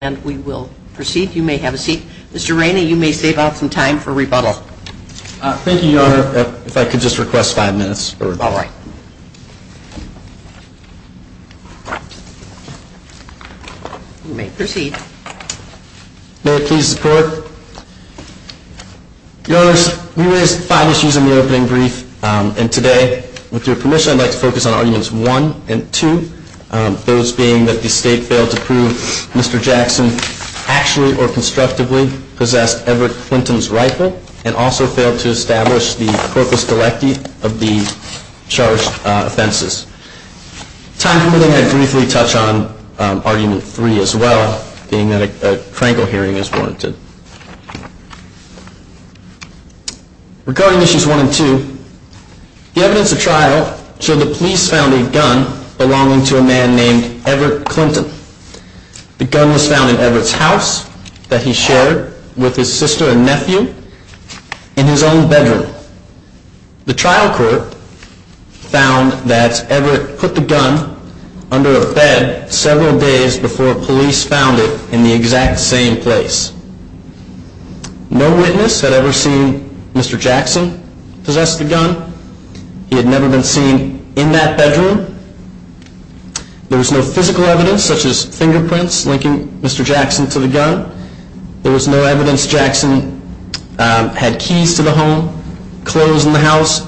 And we will proceed. You may have a seat. Mr. Rainey, you may save out some time for rebuttal. Thank you, Your Honor. If I could just request five minutes for rebuttal. All right. You may proceed. May it please the Court? Your Honor, we raised five issues in the opening brief, and today, with your permission, I'd like to focus on argument two, those being that the State failed to prove Mr. Jackson actually or constructively possessed Everett Clinton's rifle, and also failed to establish the corpus delicti of the charged offenses. Time for me to briefly touch on argument three as well, being that a crankle hearing is warranted. Regarding issues one and two, the evidence of trial showed that police found a gun belonging to a man named Everett Clinton. The gun was found in Everett's house that he shared with his sister and nephew in his own bedroom. The trial court found that Everett put the gun under a bed several days before police found it in the exact same place. No witness had ever seen Mr. Jackson possess the gun. He had never been seen in that bedroom. There was no physical evidence, such as fingerprints linking Mr. Jackson to the gun. There was no evidence Jackson had keys to the home, clothes in the house, or that he had a gun.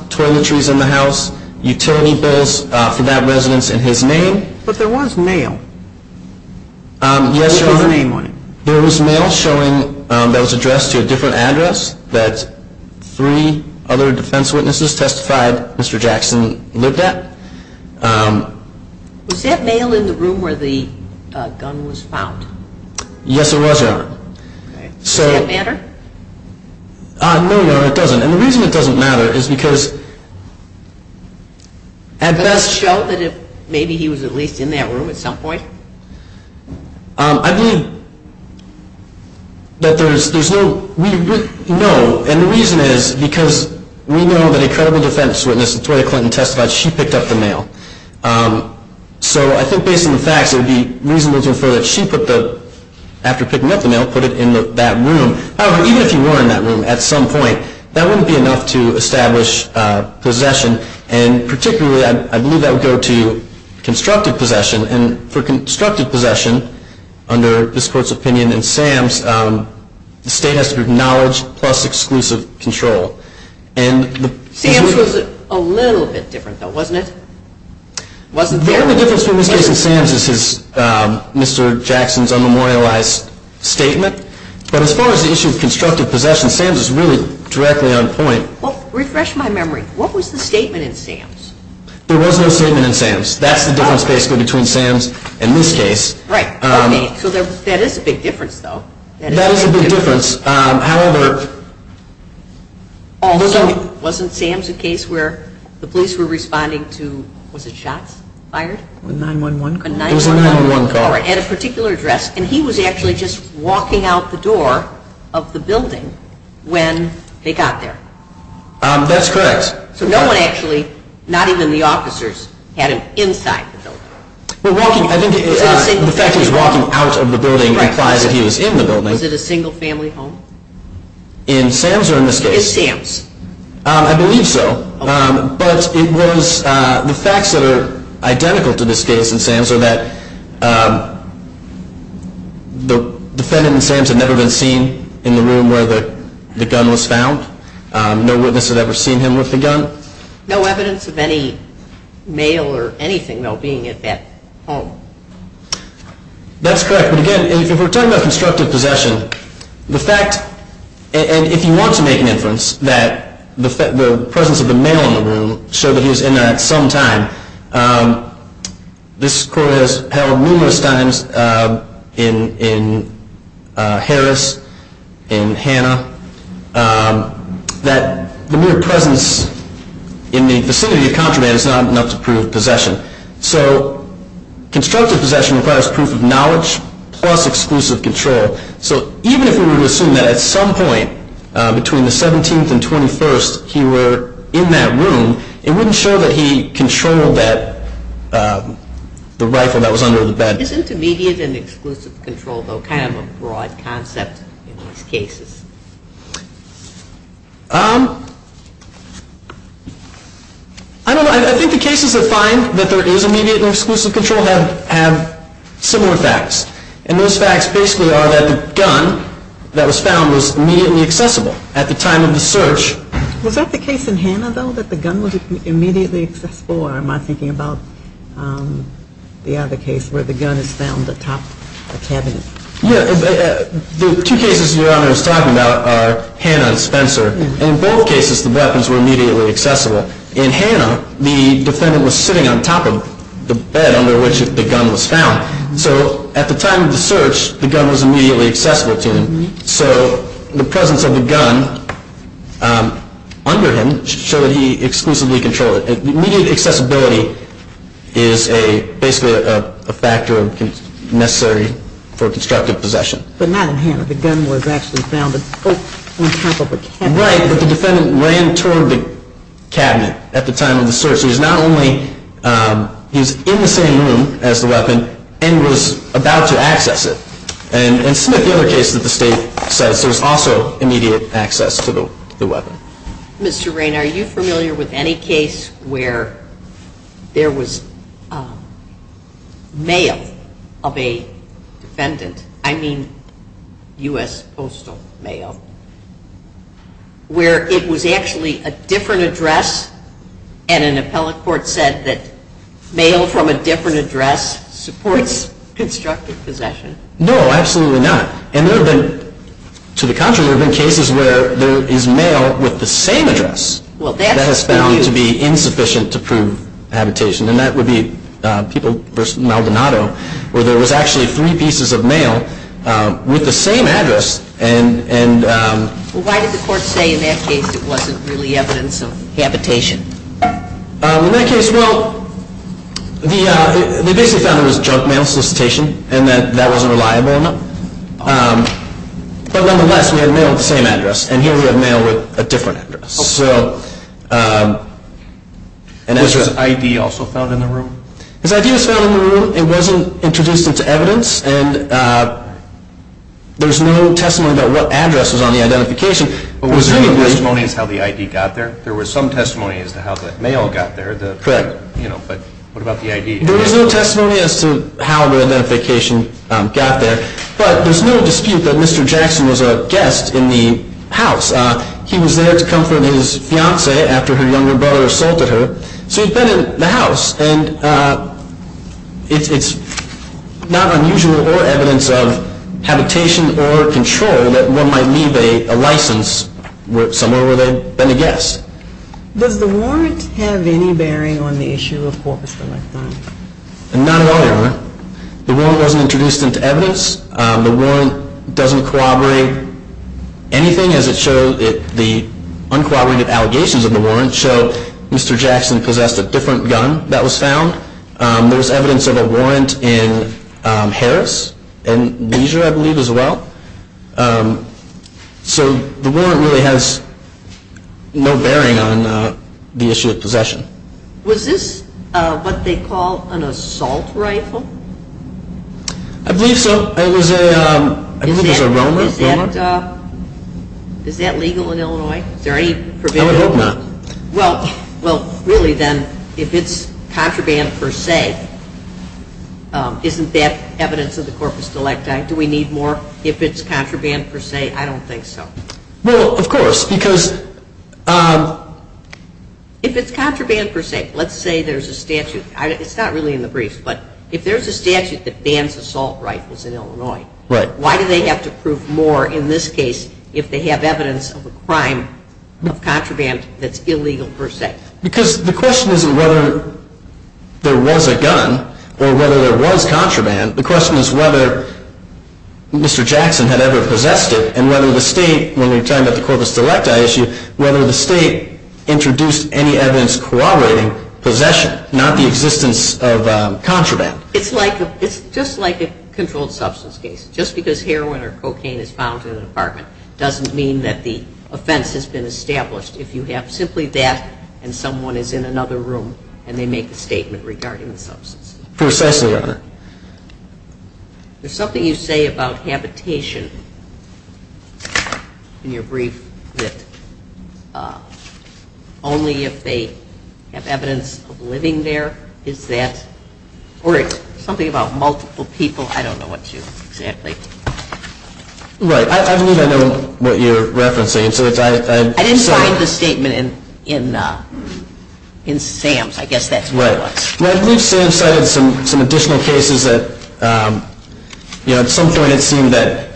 There was mail showing that was addressed to a different address that three other defense witnesses testified Mr. Jackson lived at. Was that mail in the room where the gun was found? Yes, it was, Your Honor. Does that matter? No, Your Honor, it doesn't. Does that show that he was at least in that room at some point? No, and the reason is because we know that a credible defense witness, Victoria Clinton, testified she picked up the mail. So I think based on the facts, it would be reasonable to infer that she put the, after picking up the mail, put it in that room. However, even if he were in that room at some point, that wouldn't be enough to establish possession. And particularly, I believe that would go to constructive possession. And for constructive possession, under this Court's opinion and Sam's, the state has to be acknowledged plus exclusive control. Sam's was a little bit different, though, wasn't it? The only difference between this case and Sam's is Mr. Jackson's unmemorialized statement. But as far as the issue of constructive possession, Sam's is really directly on point. Refresh my memory. What was the statement in Sam's? There was no statement in Sam's. That's the difference, basically, between Sam's and this case. Right. Okay. So that is a big difference, though. That is a big difference. However... Also, wasn't Sam's a case where the police were responding to, was it shots fired? A 911 call. It was a 911 call. At a particular address, and he was actually just walking out the door of the building when they got there. That's correct. No one actually, not even the officers, had him inside the building. The fact that he was walking out of the building implies that he was in the building. Was it a single family home? In Sam's or in this case? In Sam's. I believe so. But the facts that are identical to this case in Sam's are that the defendant in Sam's had never been seen in the room where the gun was found. So no evidence of any mail or anything being at that home. That's correct. But again, if we're talking about constructive possession, the fact, and if you want to make an inference, that the presence of the mail in the room showed that he was in there at some time. This court has held numerous times in Harris, in Hannah, that the mere presence in the vicinity of contraband is not enough to prove possession. So constructive possession requires proof of knowledge plus exclusive control. So even if we were to assume that at some point between the 17th and 21st he were in that room, it wouldn't show that he controlled the rifle that was under the bed. Isn't immediate and exclusive control kind of a broad concept in these cases? I don't know. I think the cases that find that there is immediate and exclusive control have similar facts. And those facts basically are that the gun that was found was immediately accessible at the time of the search. Was that the case in Hannah, though, that the gun was immediately accessible? Or am I thinking about the other case where the gun is found atop a cabinet? The two cases Your Honor is talking about are Hannah and Spencer. In both cases, the weapons were immediately accessible. In Hannah, the defendant was sitting on top of the bed under which the gun was found. So at the time of the search, the gun was immediately accessible to him. So the presence of the gun under him showed that he exclusively controlled it. Immediate accessibility is basically a factor necessary for constructive possession. But not in Hannah. The gun was actually found on top of a cabinet. Right, but the defendant ran toward the cabinet at the time of the search. He was in the same room as the weapon and was about to access it. And in Smith, the other case that the State says, there was also immediate access to the weapon. Mr. Raine, are you familiar with any case where there was mail of a defendant? I mean U.S. postal mail. Where it was actually a different address and an appellate court said that mail from a different address supports constructive possession? No, absolutely not. And to the contrary, there have been cases where there is mail with the same address that has been found to be insufficient to prove habitation. And that would be People v. Maldonado, where there was actually three pieces of mail with the same address. Why did the court say in that case it wasn't really evidence of habitation? In that case, well, they basically found there was junk mail solicitation and that that wasn't reliable enough. But nonetheless, we had mail with the same address and here we have mail with a different address. Was his ID also found in the room? His ID was found in the room. It wasn't introduced into evidence. And there's no testimony about what address was on the identification. But was there no testimony as to how the ID got there? There was some testimony as to how the mail got there, but what about the ID? There was no testimony as to how the identification got there, but there's no dispute that Mr. Jackson was a guest in the house. He was there to comfort his fiancée after her younger brother assaulted her, so he'd been in the house. And it's not unusual or evidence of habitation or control that one might leave a license somewhere where they've been a guest. Does the warrant have any bearing on the issue of Corpus Electum? Not at all, Your Honor. The warrant wasn't introduced into evidence. The warrant doesn't corroborate anything as it shows the uncorroborated allegations of the warrant show Mr. Jackson possessed a different gun that was found. There was evidence of a warrant in Harris and Leisure, I believe, as well. So the warrant really has no bearing on the issue of possession. Was this what they call an assault rifle? I believe so. I believe it was a Romer. Is that legal in Illinois? I would hope not. Well, really then, if it's contraband per se, isn't that evidence of the Corpus Electum? Do we need more if it's contraband per se? I don't think so. Well, of course, because if it's contraband per se, let's say there's a statute. It's not really in the briefs, but if there's a statute that bans assault rifles in Illinois, why do they have to prove more in this case if they have evidence of a crime of contraband that's illegal per se? Because the question isn't whether there was a gun or whether there was contraband. The question is whether Mr. Jackson had ever possessed it and whether the state, when we're talking about the Corpus Electum issue, whether the state introduced any evidence corroborating possession, not the existence of contraband. It's just like a controlled substance case. Just because heroin or cocaine is found in an apartment doesn't mean that the offense has been established. If you have simply that and someone is in another room and they make a statement regarding the substance. There's something you say about habitation in your brief that only if they have evidence of living there, or it's something about multiple people. I don't know what you're referencing. I didn't find the statement in Sam's. I believe Sam cited some additional cases. At some point it seemed that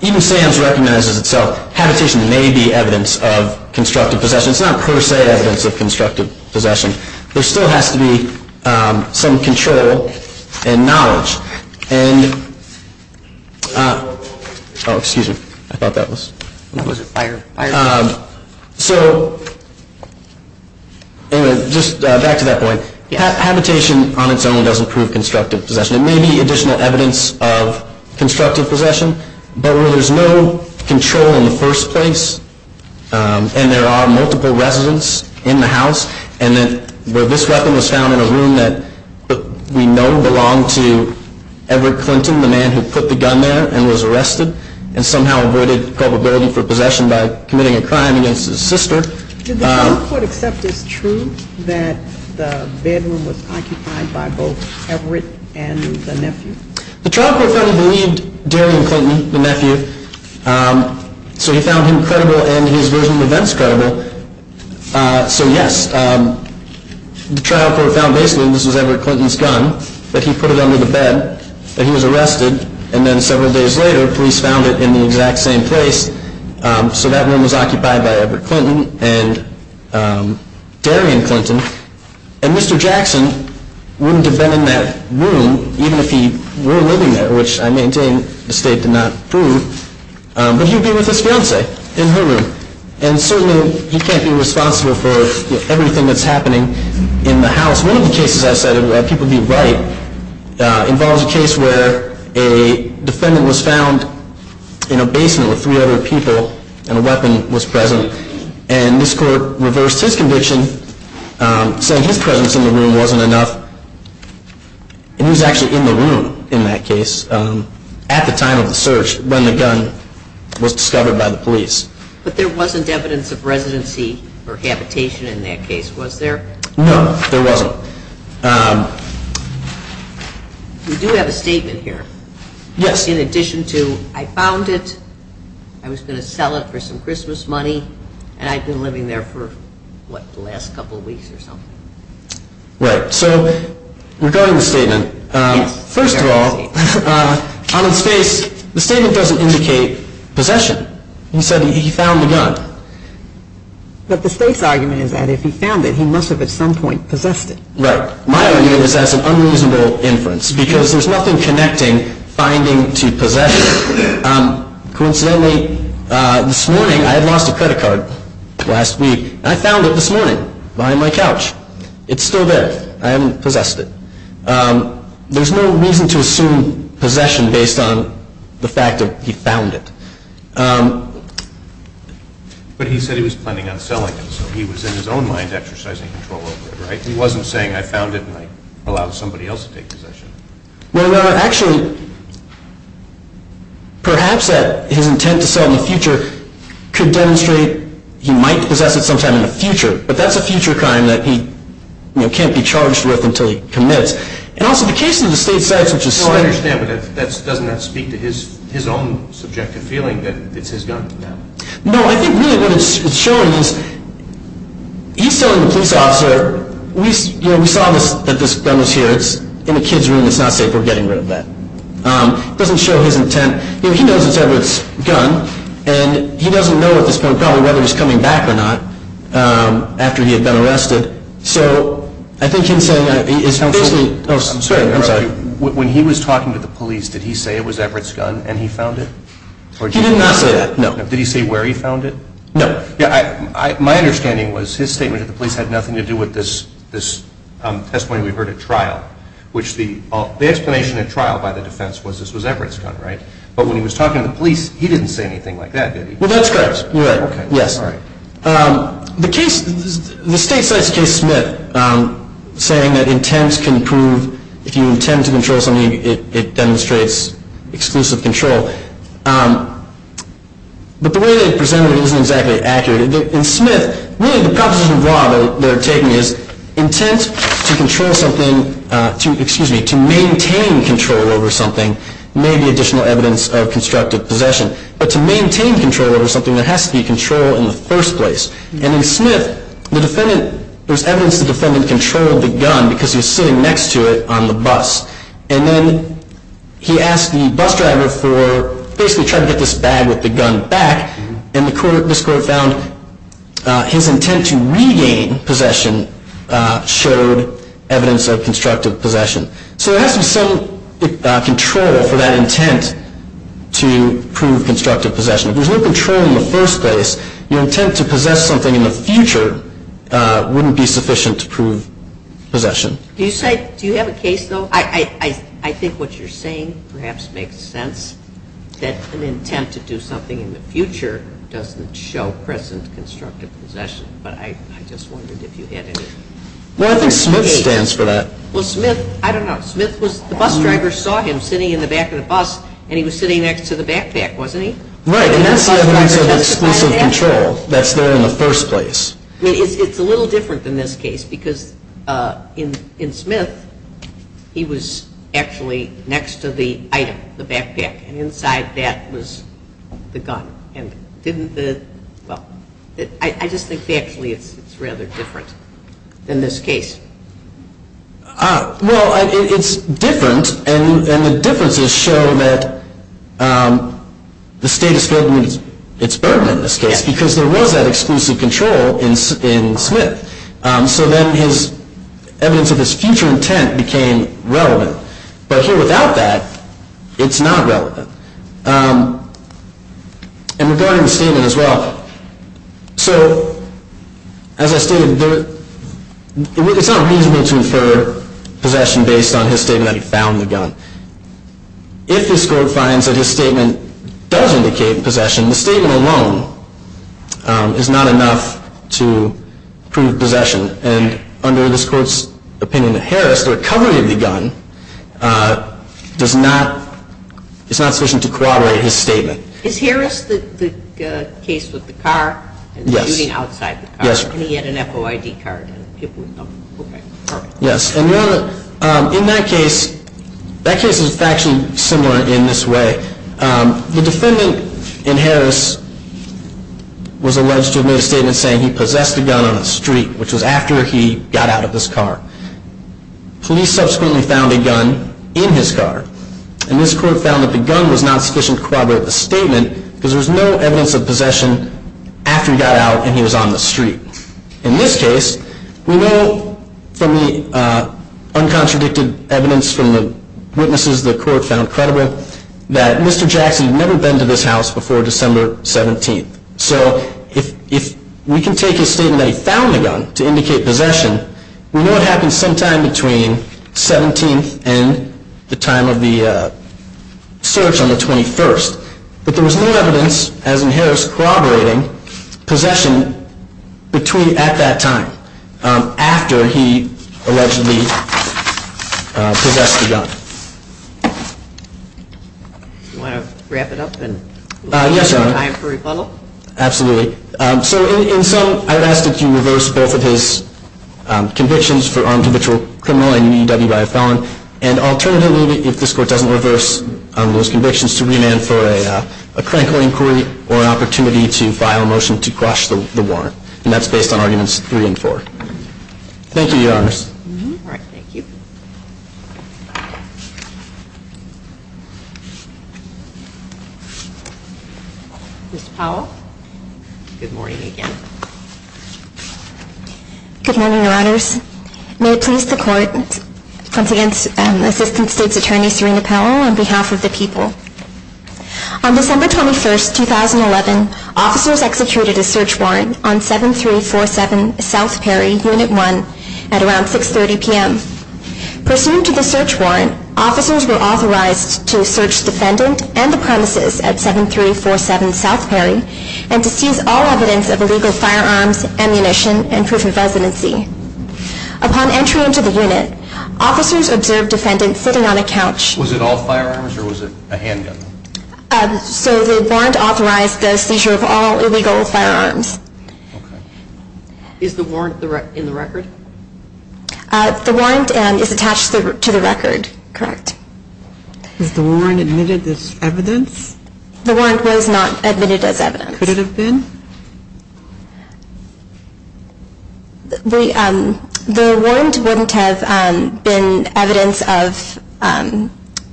even if Sam's recognizes itself, habitation may be evidence of constructive possession. It's not per se evidence of constructive possession. There still has to be some control and knowledge. Oh, excuse me. Back to that point. Habitation on its own doesn't prove constructive possession. It may be additional evidence of constructive possession, but where there's no control in the first place and there are multiple residents in the house, and this weapon was found in a room that we know belonged to Everett Clinton, the man who put the gun there and was arrested and somehow avoided culpability for possession by committing a crime against his sister. Did the trial court accept as true that the bedroom was occupied by both Everett and the nephew? So he found him credible and his version of events credible. So yes, the trial court found basically that this was Everett Clinton's gun, that he put it under the bed, that he was arrested, and then several days later police found it in the exact same place. So that room was occupied by Everett Clinton and Darian Clinton. And Mr. Jackson wouldn't have been in that room even if he were living there, which I maintain the state did not prove, but he would be with his fiancée in her room. And certainly he can't be responsible for everything that's happening in the house. One of the cases I cited, if people would be right, involves a case where a defendant was found in a basement with three other people and a weapon was present and this court reversed his conviction saying his presence in the room wasn't enough. And he was actually in the room in that case at the time of the search when the gun was discovered by the police. But there wasn't evidence of residency or habitation in that case, was there? No, there wasn't. We do have a statement here in addition to I found it, I was going to sell it for some Christmas money, and I'd been living there for, what, the last couple of weeks or something. Right, so regarding the statement, first of all, on his face, the statement doesn't indicate possession. He said he found the gun. But the state's argument is that if he found it, he must have at some point possessed it. Right. My argument is that's an unreasonable inference because there's nothing connecting finding to possession. Coincidentally, this morning, I had lost a credit card last week and I found it this morning behind my couch. It's still there. I haven't possessed it. There's no reason to assume possession based on the fact that he found it. But he said he was planning on selling it, so he was in his own mind exercising control over it, right? He wasn't saying, I found it and I allowed somebody else to take possession of it. No, no, no. Actually, perhaps that his intent to sell in the future could demonstrate he might possess it sometime in the future. But that's a future crime that he can't be charged with until he commits. And also the case of the state sites, which is... No, I understand, but doesn't that speak to his own subjective feeling that it's his gun? No, I think really what it's showing is he's telling the police officer, we saw that this gun was here, it's in a kid's room, it's not safe, we're getting rid of that. It doesn't show his intent. He knows it's Edwards' gun and he doesn't know at this point whether he's coming back or not after he had been arrested. So I think he's saying... When he was talking to the police, did he say it was Edwards' gun and he found it? He did not say that, no. Did he say where he found it? No. My understanding was his statement to the police had nothing to do with this testimony we heard at trial. The explanation at trial by the defense was this was Edwards' gun, right? But when he was talking to the police, he didn't say anything like that, did he? Well, that's correct. You're right. Yes. The case... The state site's case, Smith, saying that intent can prove... If you intend to control something, it demonstrates exclusive control. But the way they presented it isn't exactly accurate. In Smith, really the proposition of law they're taking is intent to control something... Excuse me, to maintain control over something may be additional evidence of constructive possession. But to maintain control over something, there has to be control in the first place. And in Smith, the defendant... There's evidence the defendant controlled the gun because he was sitting next to it on the bus. And then he asked the bus driver for... Basically trying to get this bag with the gun back. And this court found his intent to regain possession showed evidence of constructive possession. So there has to be some control for that intent to prove constructive possession. If there's no control in the first place, your intent to possess something in the future wouldn't be sufficient to prove possession. I think what you're saying perhaps makes sense. That an intent to do something in the future doesn't show present constructive possession. But I just wondered if you had any... Well, I think Smith stands for that. Well, Smith... I don't know. Smith was... The bus driver saw him sitting in the back of the bus and he was sitting next to the backpack, wasn't he? Right. And that's the evidence of exclusive control that's there in the first place. I mean, it's a little different than this case. Because in Smith, he was actually next to the item, the backpack. And inside that was the gun. And didn't the... Well, I just think actually it's rather different than this case. Well, it's different. And the differences show that the state has failed to meet its burden in this case. Yes, because there was that exclusive control in Smith. So then his evidence of his future intent became relevant. But here without that, it's not relevant. And regarding the statement as well, so as I stated, there... It's not reasonable to infer possession based on his statement that he found the gun. If this court finds that his statement does indicate possession, the statement alone is not enough to prove possession. And under this court's opinion of Harris, the recovery of the gun does not... It's not sufficient to corroborate his statement. Is Harris the case with the car? Yes. And the shooting outside the car? Yes, ma'am. And he had an FOID card? Yes. And in that case, that case is actually similar in this way. The defendant in Harris was alleged to have made a statement saying he possessed a gun on the street, which was after he got out of his car. Police subsequently found a gun in his car. And this court found that the gun was not sufficient to corroborate the statement because there was no evidence of possession after he got out and he was on the street. In this case, we know from the uncontradicted evidence from the witnesses the court found credible that Mr. Jackson had never been to this house before December 17th. So if we can take his statement that he found the gun to indicate possession, we know it happened sometime between 17th and the time of the search on the 21st. But there was no evidence, as in Harris, corroborating possession at that time, after he allegedly possessed the gun. Do you want to wrap it up and leave some time for rebuttal? Absolutely. So in sum, I would ask that you reverse both of his convictions for armed habitual criminal and EW by a felon. And alternatively, if this court doesn't reverse those convictions, to remand for a critical inquiry or an opportunity to file a motion to crush the warrant. And that's based on Arguments 3 and 4. Thank you, Your Honors. All right. Thank you. Ms. Powell. Good morning again. Good morning, Your Honors. May it please the Court, once again, Assistant State's Attorney, Serena Powell, on behalf of the people. On December 21st, 2011, officers executed a search warrant on 7347 South Perry, Unit 1, at around 630 p.m. Pursuant to the search warrant, officers were authorized to search the defendant and the premises at 7347 South Perry and to seize all evidence of illegal firearms, ammunition, and proof of residency. Upon entry into the unit, officers observed defendants sitting on a couch. Was it all firearms or was it a handgun? So the warrant authorized the seizure of all illegal firearms. Okay. Is the warrant in the record? The warrant is attached to the record. Correct. Is the warrant admitted as evidence? The warrant was not admitted as evidence. Could it have been? The warrant wouldn't have been evidence of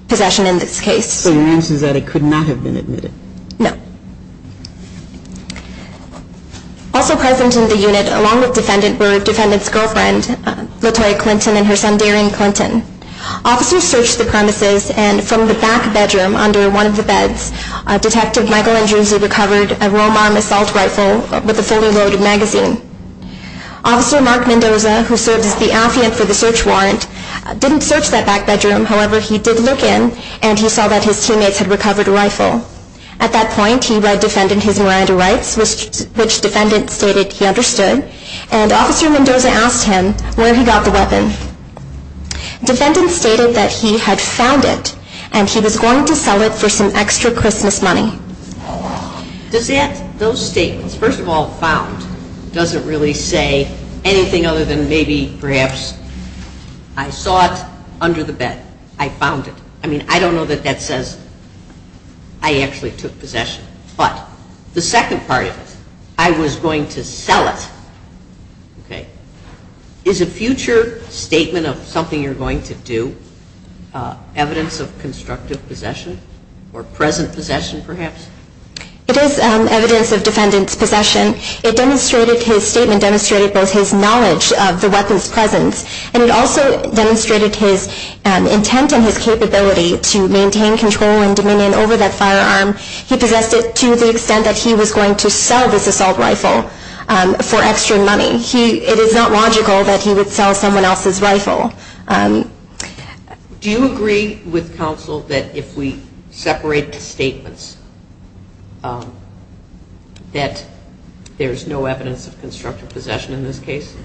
possession in this case. So your answer is that it could not have been admitted? No. Also present in the unit, along with the defendant, were the defendant's girlfriend, Latoya Clinton, and her son, Darian Clinton. Officers searched the premises, and from the back bedroom under one of the beds, Detective Michael Andrews had recovered a Romarm assault rifle with a fully loaded magazine. Officer Mark Mendoza, who served as the affiant for the search warrant, didn't search that back bedroom. However, he did look in, and he saw that his teammates had recovered a rifle. At that point, he read defendant his Miranda Rights, which defendant stated he understood, and Officer Mendoza asked him where he got the weapon. Defendant stated that he had found it, and he was going to sell it for some extra Christmas money. Does that, those statements, first of all, found, doesn't really say anything other than maybe, perhaps, I saw it under the bed. I found it. I mean, I don't know that that says I actually took possession. But the second part of it, I was going to sell it, okay, is a future statement of something you're going to do evidence of constructive possession, or present possession, perhaps? It is evidence of defendant's possession. It demonstrated, his statement demonstrated both his knowledge of the weapon's presence, and it also demonstrated his intent and his capability to maintain control and dominion over that firearm. He possessed it to the extent that he was going to sell this assault rifle for extra money. It is not logical that he would sell someone else's rifle. Do you agree with counsel that if we separate the statements, that there's no evidence of constructive possession in this case?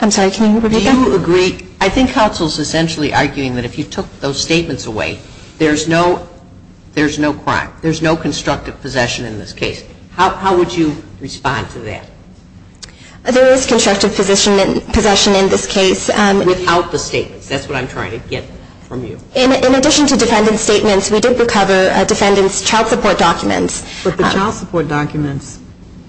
I'm sorry, can you repeat that? Do you agree? I think counsel is essentially arguing that if you took those statements away, there's no crime. There's no constructive possession in this case. How would you respond to that? There is constructive possession in this case. Without the statements. That's what I'm trying to get from you. In addition to defendant's statements, we did recover defendant's child support documents. But the child support documents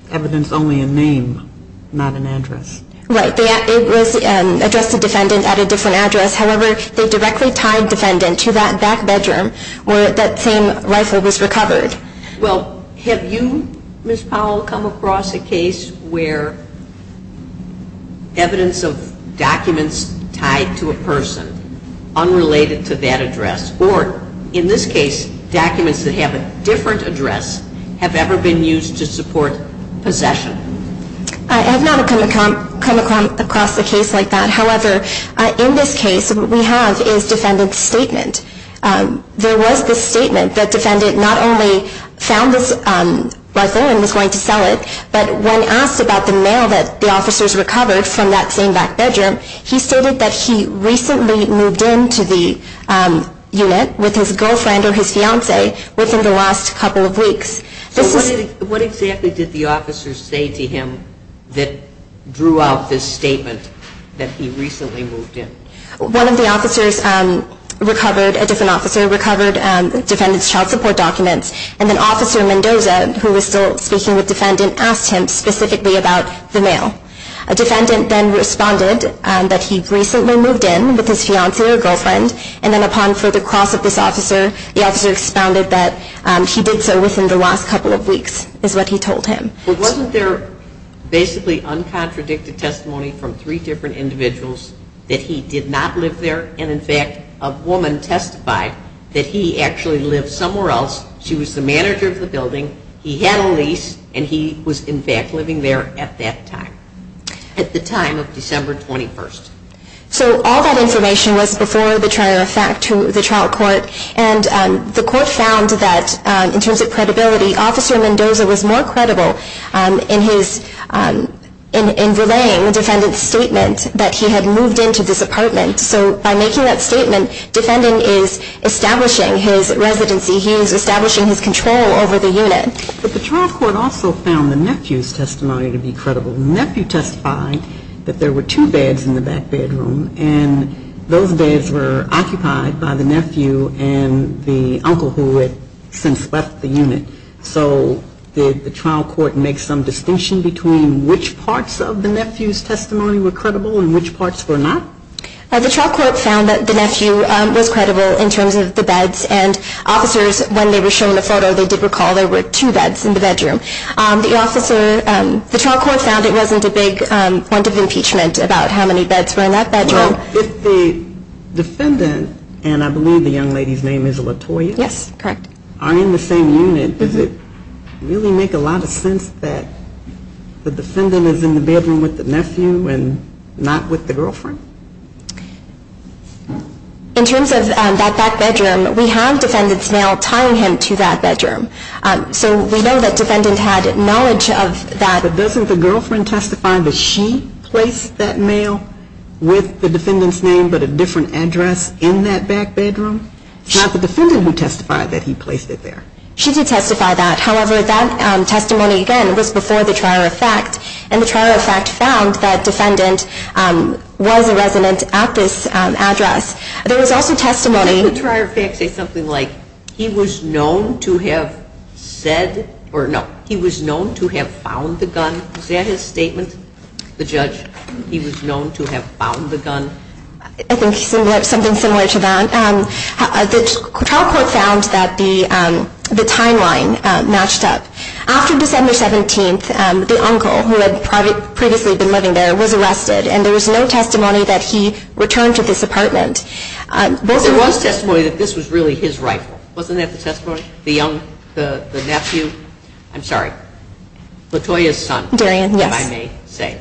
evidence only in name, not in address. Right. It was addressed to defendant at a different address. However, they directly tied defendant to that back bedroom where that same rifle was recovered. Well, have you, Ms. Powell, come across a case where evidence of documents tied to a person, unrelated to that address, or in this case, documents that have a different address have ever been used to support possession? I have not come across a case like that. However, in this case, what we have is defendant's statement. There was this statement that defendant not only found this rifle and was going to sell it, but when asked about the mail that the officers recovered from that same back bedroom, he stated that he recently moved into the unit with his girlfriend or his fiance within the last couple of weeks. So what exactly did the officers say to him that drew out this statement that he recently moved in? One of the officers recovered, a different officer recovered defendant's child support documents, and then Officer Mendoza, who was still speaking with defendant, asked him specifically about the mail. A defendant then responded that he recently moved in with his fiance or girlfriend, and then upon further cross of this officer, the officer expounded that he did so within the last couple of weeks, is what he told him. But wasn't there basically uncontradicted testimony from three different individuals that he did not live there, and in fact, a woman testified that he actually lived somewhere else, she was the manager of the building, he had a lease, and he was in fact living there at that time, at the time of December 21st. So all that information was before the trial court, and the court found that in terms of credibility, Officer Mendoza was more credible in his, in relaying the defendant's statement that he had moved into this apartment. So by making that statement, defendant is establishing his residency, he is establishing his control over the unit. But the trial court also found the nephew's testimony to be credible. The nephew testified that there were two beds in the back bedroom, and those beds were occupied by the nephew and the uncle who had since left the unit. So did the trial court make some distinction between which parts of the nephew's testimony were credible and which parts were not? The trial court found that the nephew was credible in terms of the beds, and officers, when they were shown the photo, they did recall there were two beds in the bedroom. The trial court found it wasn't a big point of impeachment about how many beds were in that bedroom. If the defendant, and I believe the young lady's name is Latoya, are in the same unit, does it really make a lot of sense that the defendant is in the bedroom with the nephew and not with the girlfriend? In terms of that back bedroom, we have defendants now tying him to that bedroom. So we know that defendant had knowledge of that. But doesn't the girlfriend testify that she placed that mail with the defendant's name, but a different address in that back bedroom? It's not the defendant who testified that he placed it there. She did testify that. However, that testimony, again, was before the trier of fact, and the trier of fact found that defendant was a resident at this address. There was also testimony. Didn't the trier of fact say something like, he was known to have said, or no, he was known to have found the gun? Is that his statement, the judge? He was known to have found the gun? I think something similar to that. The trial court found that the timeline matched up. After December 17th, the uncle, who had previously been living there, was arrested, and there was no testimony that he returned to this apartment. There was testimony that this was really his rifle. Wasn't that the testimony? The nephew? I'm sorry, Latoya's son, if I may say.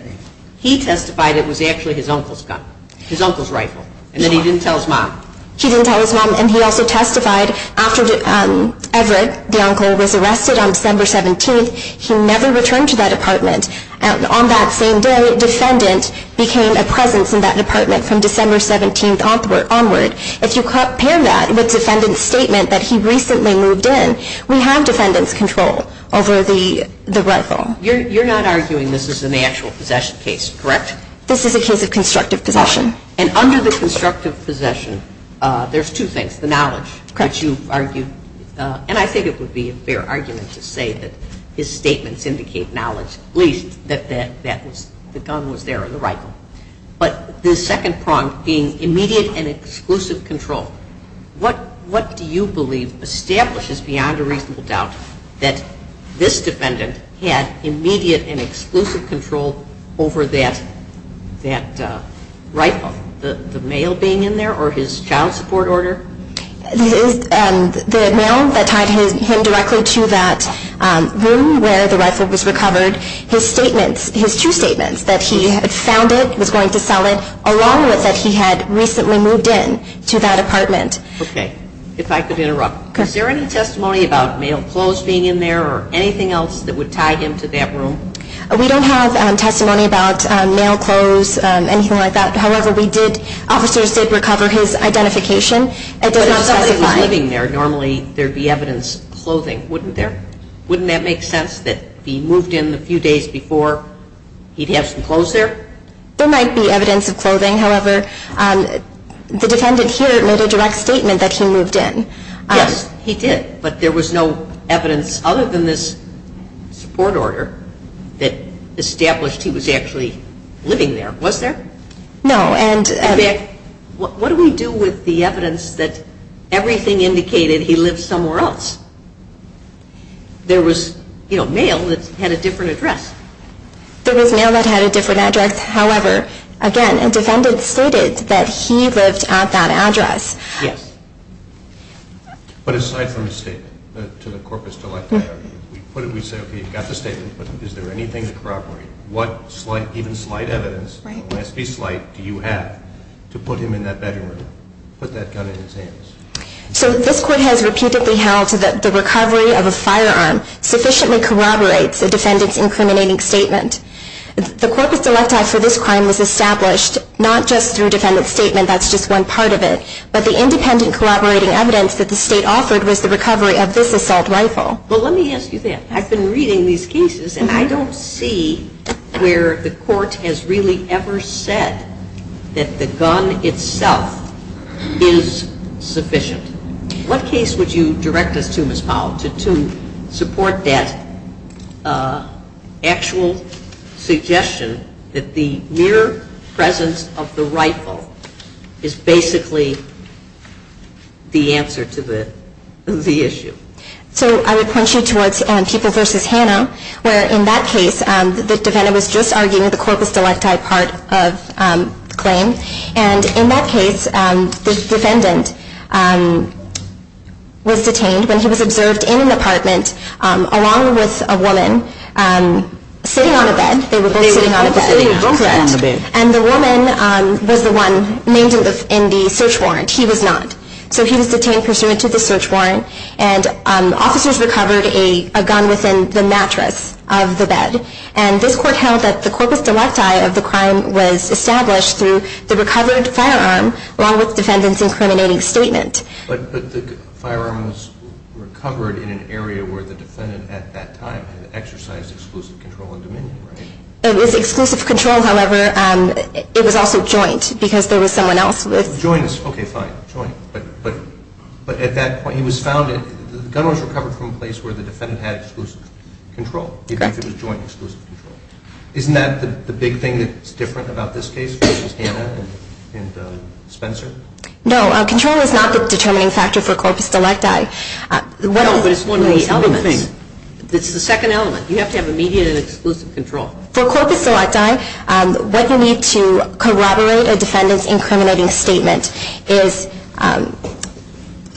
He testified it was actually his uncle's gun, his uncle's rifle. And then he didn't tell his mom. He didn't tell his mom, and he also testified after Everett, the uncle, was arrested on December 17th, he never returned to that apartment. On that same day, defendant became a presence in that apartment from December 17th onward. If you compare that with defendant's statement that he recently moved in, we have defendant's control over the rifle. You're not arguing this is an actual possession case, correct? This is a case of constructive possession. And under the constructive possession, there's two things, the knowledge that you argued, and I think it would be a fair argument to say that his statements indicate knowledge. First, at least, that the gun was there, the rifle. But the second prong being immediate and exclusive control. What do you believe establishes beyond a reasonable doubt that this defendant had immediate and exclusive control over that rifle, the mail being in there or his child support order? The mail that tied him directly to that room where the rifle was recovered. His statements, his two statements, that he had found it, was going to sell it, along with that he had recently moved in to that apartment. Okay. If I could interrupt. Is there any testimony about mail, clothes being in there, or anything else that would tie him to that room? We don't have testimony about mail, clothes, anything like that. However, officers did recover his identification. But if somebody was living there, normally there would be evidence of clothing, wouldn't there? Wouldn't that make sense that he moved in a few days before he'd have some clothes there? There might be evidence of clothing. However, the defendant here made a direct statement that he moved in. Yes, he did. But there was no evidence other than this support order that established he was actually living there. Was there? No. What do we do with the evidence that everything indicated he lived somewhere else? There was mail that had a different address. There was mail that had a different address. However, again, a defendant stated that he lived at that address. Yes. But aside from the statement to the corpus delicti, we say, okay, you've got the statement, but is there anything to corroborate? What even slight evidence, alas, be slight, do you have to put him in that bedroom, put that gun in his hands? So this court has repeatedly held that the recovery of a firearm sufficiently corroborates a defendant's incriminating statement. The corpus delicti for this crime was established not just through a defendant's statement, that's just one part of it, but the independent corroborating evidence that the state offered was the recovery of this assault rifle. Well, let me ask you that. I've been reading these cases and I don't see where the court has really ever said that the gun itself is sufficient. What case would you direct us to, Ms. Powell, to support that actual suggestion that the mere presence of the rifle is basically the answer to the issue? So I would point you towards People v. Hanna, where in that case the defendant was just arguing the corpus delicti part of the claim, and in that case the defendant was detained when he was observed in an apartment along with a woman sitting on a bed. They were both sitting on a bed. And the woman was the one named in the search warrant. He was not. So he was detained pursuant to the search warrant and officers recovered a gun within the mattress of the bed. And this court held that the corpus delicti of the crime was established through the recovered firearm along with the defendant's incriminating statement. But the firearm was recovered in an area where the defendant at that time had exercised exclusive control and dominion, right? It was exclusive control, however. It was also joint because there was someone else with... Joint, okay, fine, joint. But at that point he was found, the gun was recovered from a place where the defendant had exclusive control, even if it was joint exclusive control. Isn't that the big thing that's different about this case versus Hanna and Spencer? No, control is not the determining factor for corpus delicti. No, but it's one of the elements. It's the second element. You have to have immediate and exclusive control. For corpus delicti, what you need to corroborate a defendant's incriminating statement is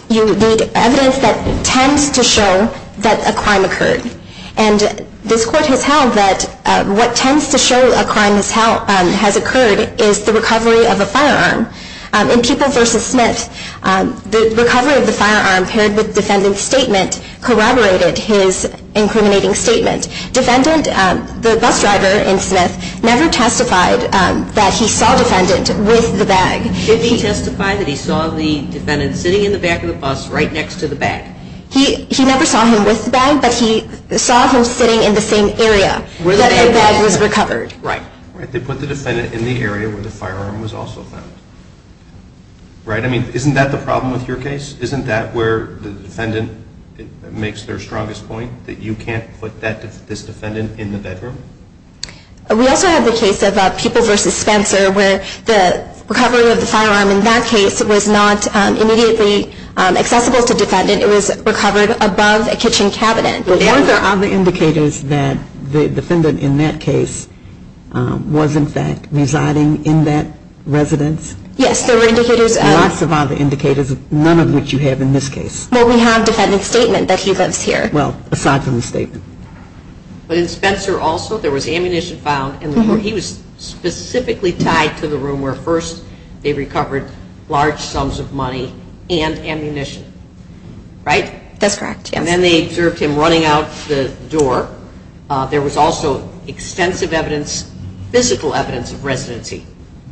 you need evidence that tends to show that a crime occurred. And this court has held that what tends to show a crime has occurred is the recovery of a firearm. In People v. Smith, the recovery of the firearm paired with defendant's statement corroborated his incriminating statement. Defendant, the bus driver in Smith, never testified that he saw defendant with the bag. Did he testify that he saw the defendant sitting in the back of the bus right next to the bag? He never saw him with the bag, but he saw him sitting in the same area where the bag was recovered. Right, they put the defendant in the area where the firearm was also found. Right, I mean, isn't that the problem with your case? Isn't that where the defendant makes their strongest point, that you can't put this defendant in the bedroom? We also have the case of People v. Spencer where the recovery of the firearm in that case was not immediately accessible to defendant. It was recovered above a kitchen cabinet. Weren't there other indicators that the defendant in that case was, in fact, residing in that residence? Yes, there were indicators of None of which you have in this case. No, we have defendant's statement that he lives here. Well, aside from the statement. But in Spencer also, there was ammunition found, and he was specifically tied to the room where first they recovered large sums of money and ammunition. Right? That's correct, yes. And then they observed him running out the door. There was also extensive evidence, physical evidence of residency,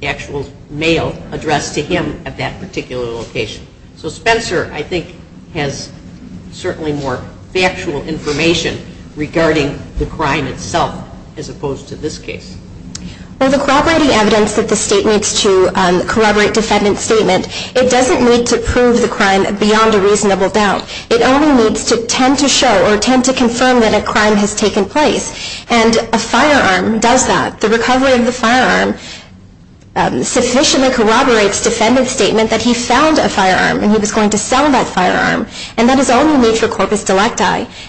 actual mail addressed to him at that particular location. So Spencer, I think, has certainly more factual information regarding the crime itself as opposed to this case. Well, the corroborating evidence that the State needs to corroborate defendant's statement, it doesn't need to prove the crime beyond a reasonable doubt. It only needs to tend to show or tend to confirm that a crime has taken place. And a firearm does that. The recovery of the firearm sufficiently corroborates defendant's statement that he found a firearm and he was going to sell that firearm. And that is only made for corpus delicti.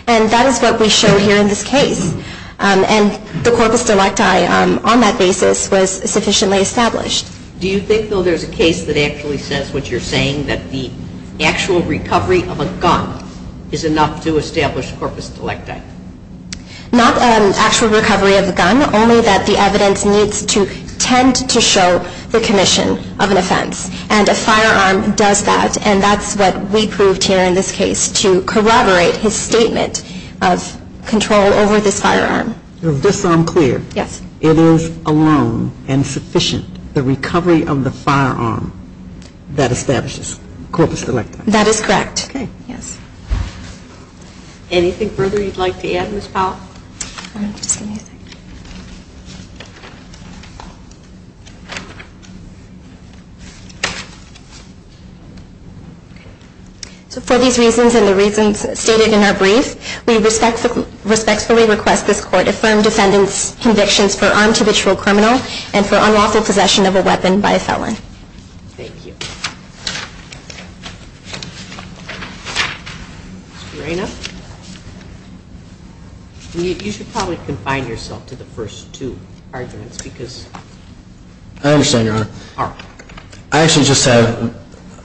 And that is what we show here in this case. And the corpus delicti on that basis was sufficiently established. Do you think, though, there's a case that actually says what you're saying, that the actual recovery of a gun is enough to establish corpus delicti? Not an actual recovery of a gun, only that the evidence needs to tend to show the commission of an offense. And a firearm does that. And that's what we proved here in this case to corroborate his statement of control over this firearm. Just so I'm clear. Yes. It is alone and sufficient, the recovery of the firearm that establishes corpus delicti. That is correct. Okay. Yes. Anything further you'd like to add, Ms. Powell? Just give me a second. So for these reasons and the reasons stated in our brief, we respectfully request this court affirm defendant's convictions for armed habitual criminal and for unlawful possession of a weapon by a felon. Thank you. Ms. Moreno? You should probably confine yourself to the podium. I'm going to go back to the first two arguments. I understand, Your Honor. I actually just have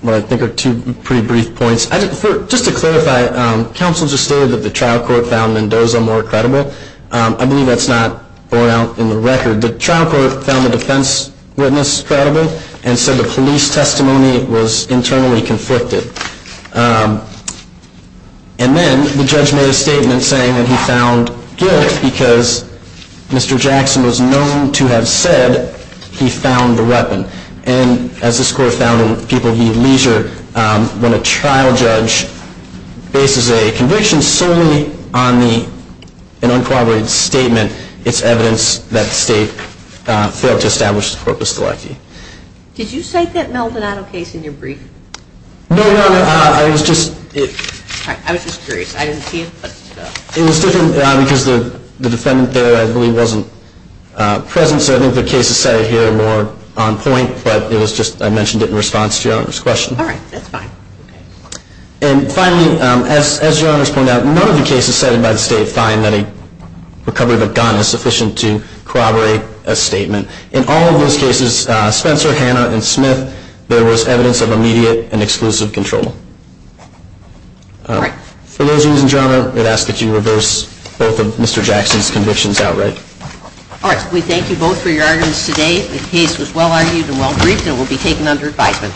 what I think are two pretty brief points. Just to clarify, counsel just stated that the trial court found Mendoza more credible. I believe that's not borne out in the record. The trial court found the defense witness credible and said the police testimony was internally conflicted. And then the judge made a statement saying that he found guilt because Mr. Jackson was known to have said he found the weapon. And as this court found in People Heed Leisure, when a trial judge bases a conviction solely on an uncooperated statement, it's evidence that the state failed to establish the corpus delicti. Did you cite that Maldonado case in your brief? No, Your Honor. I was just curious. I didn't see it. It was different because the defendant there I believe wasn't present, so I think the case is cited here more on point. But it was just I mentioned it in response to Your Honor's question. All right. That's fine. And finally, as Your Honor's pointed out, none of the cases cited by the state find that a recovery of a gun is sufficient to corroborate a statement. In all of those cases, Spencer, Hanna, and Smith, there was evidence of immediate and exclusive control. All right. For those of you who didn't, Your Honor, I'd ask that you reverse both of Mr. Jackson's convictions outright. All right. We thank you both for your arguments today. The case was well argued and well briefed, and it will be taken under advisement.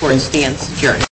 Court is in stand security.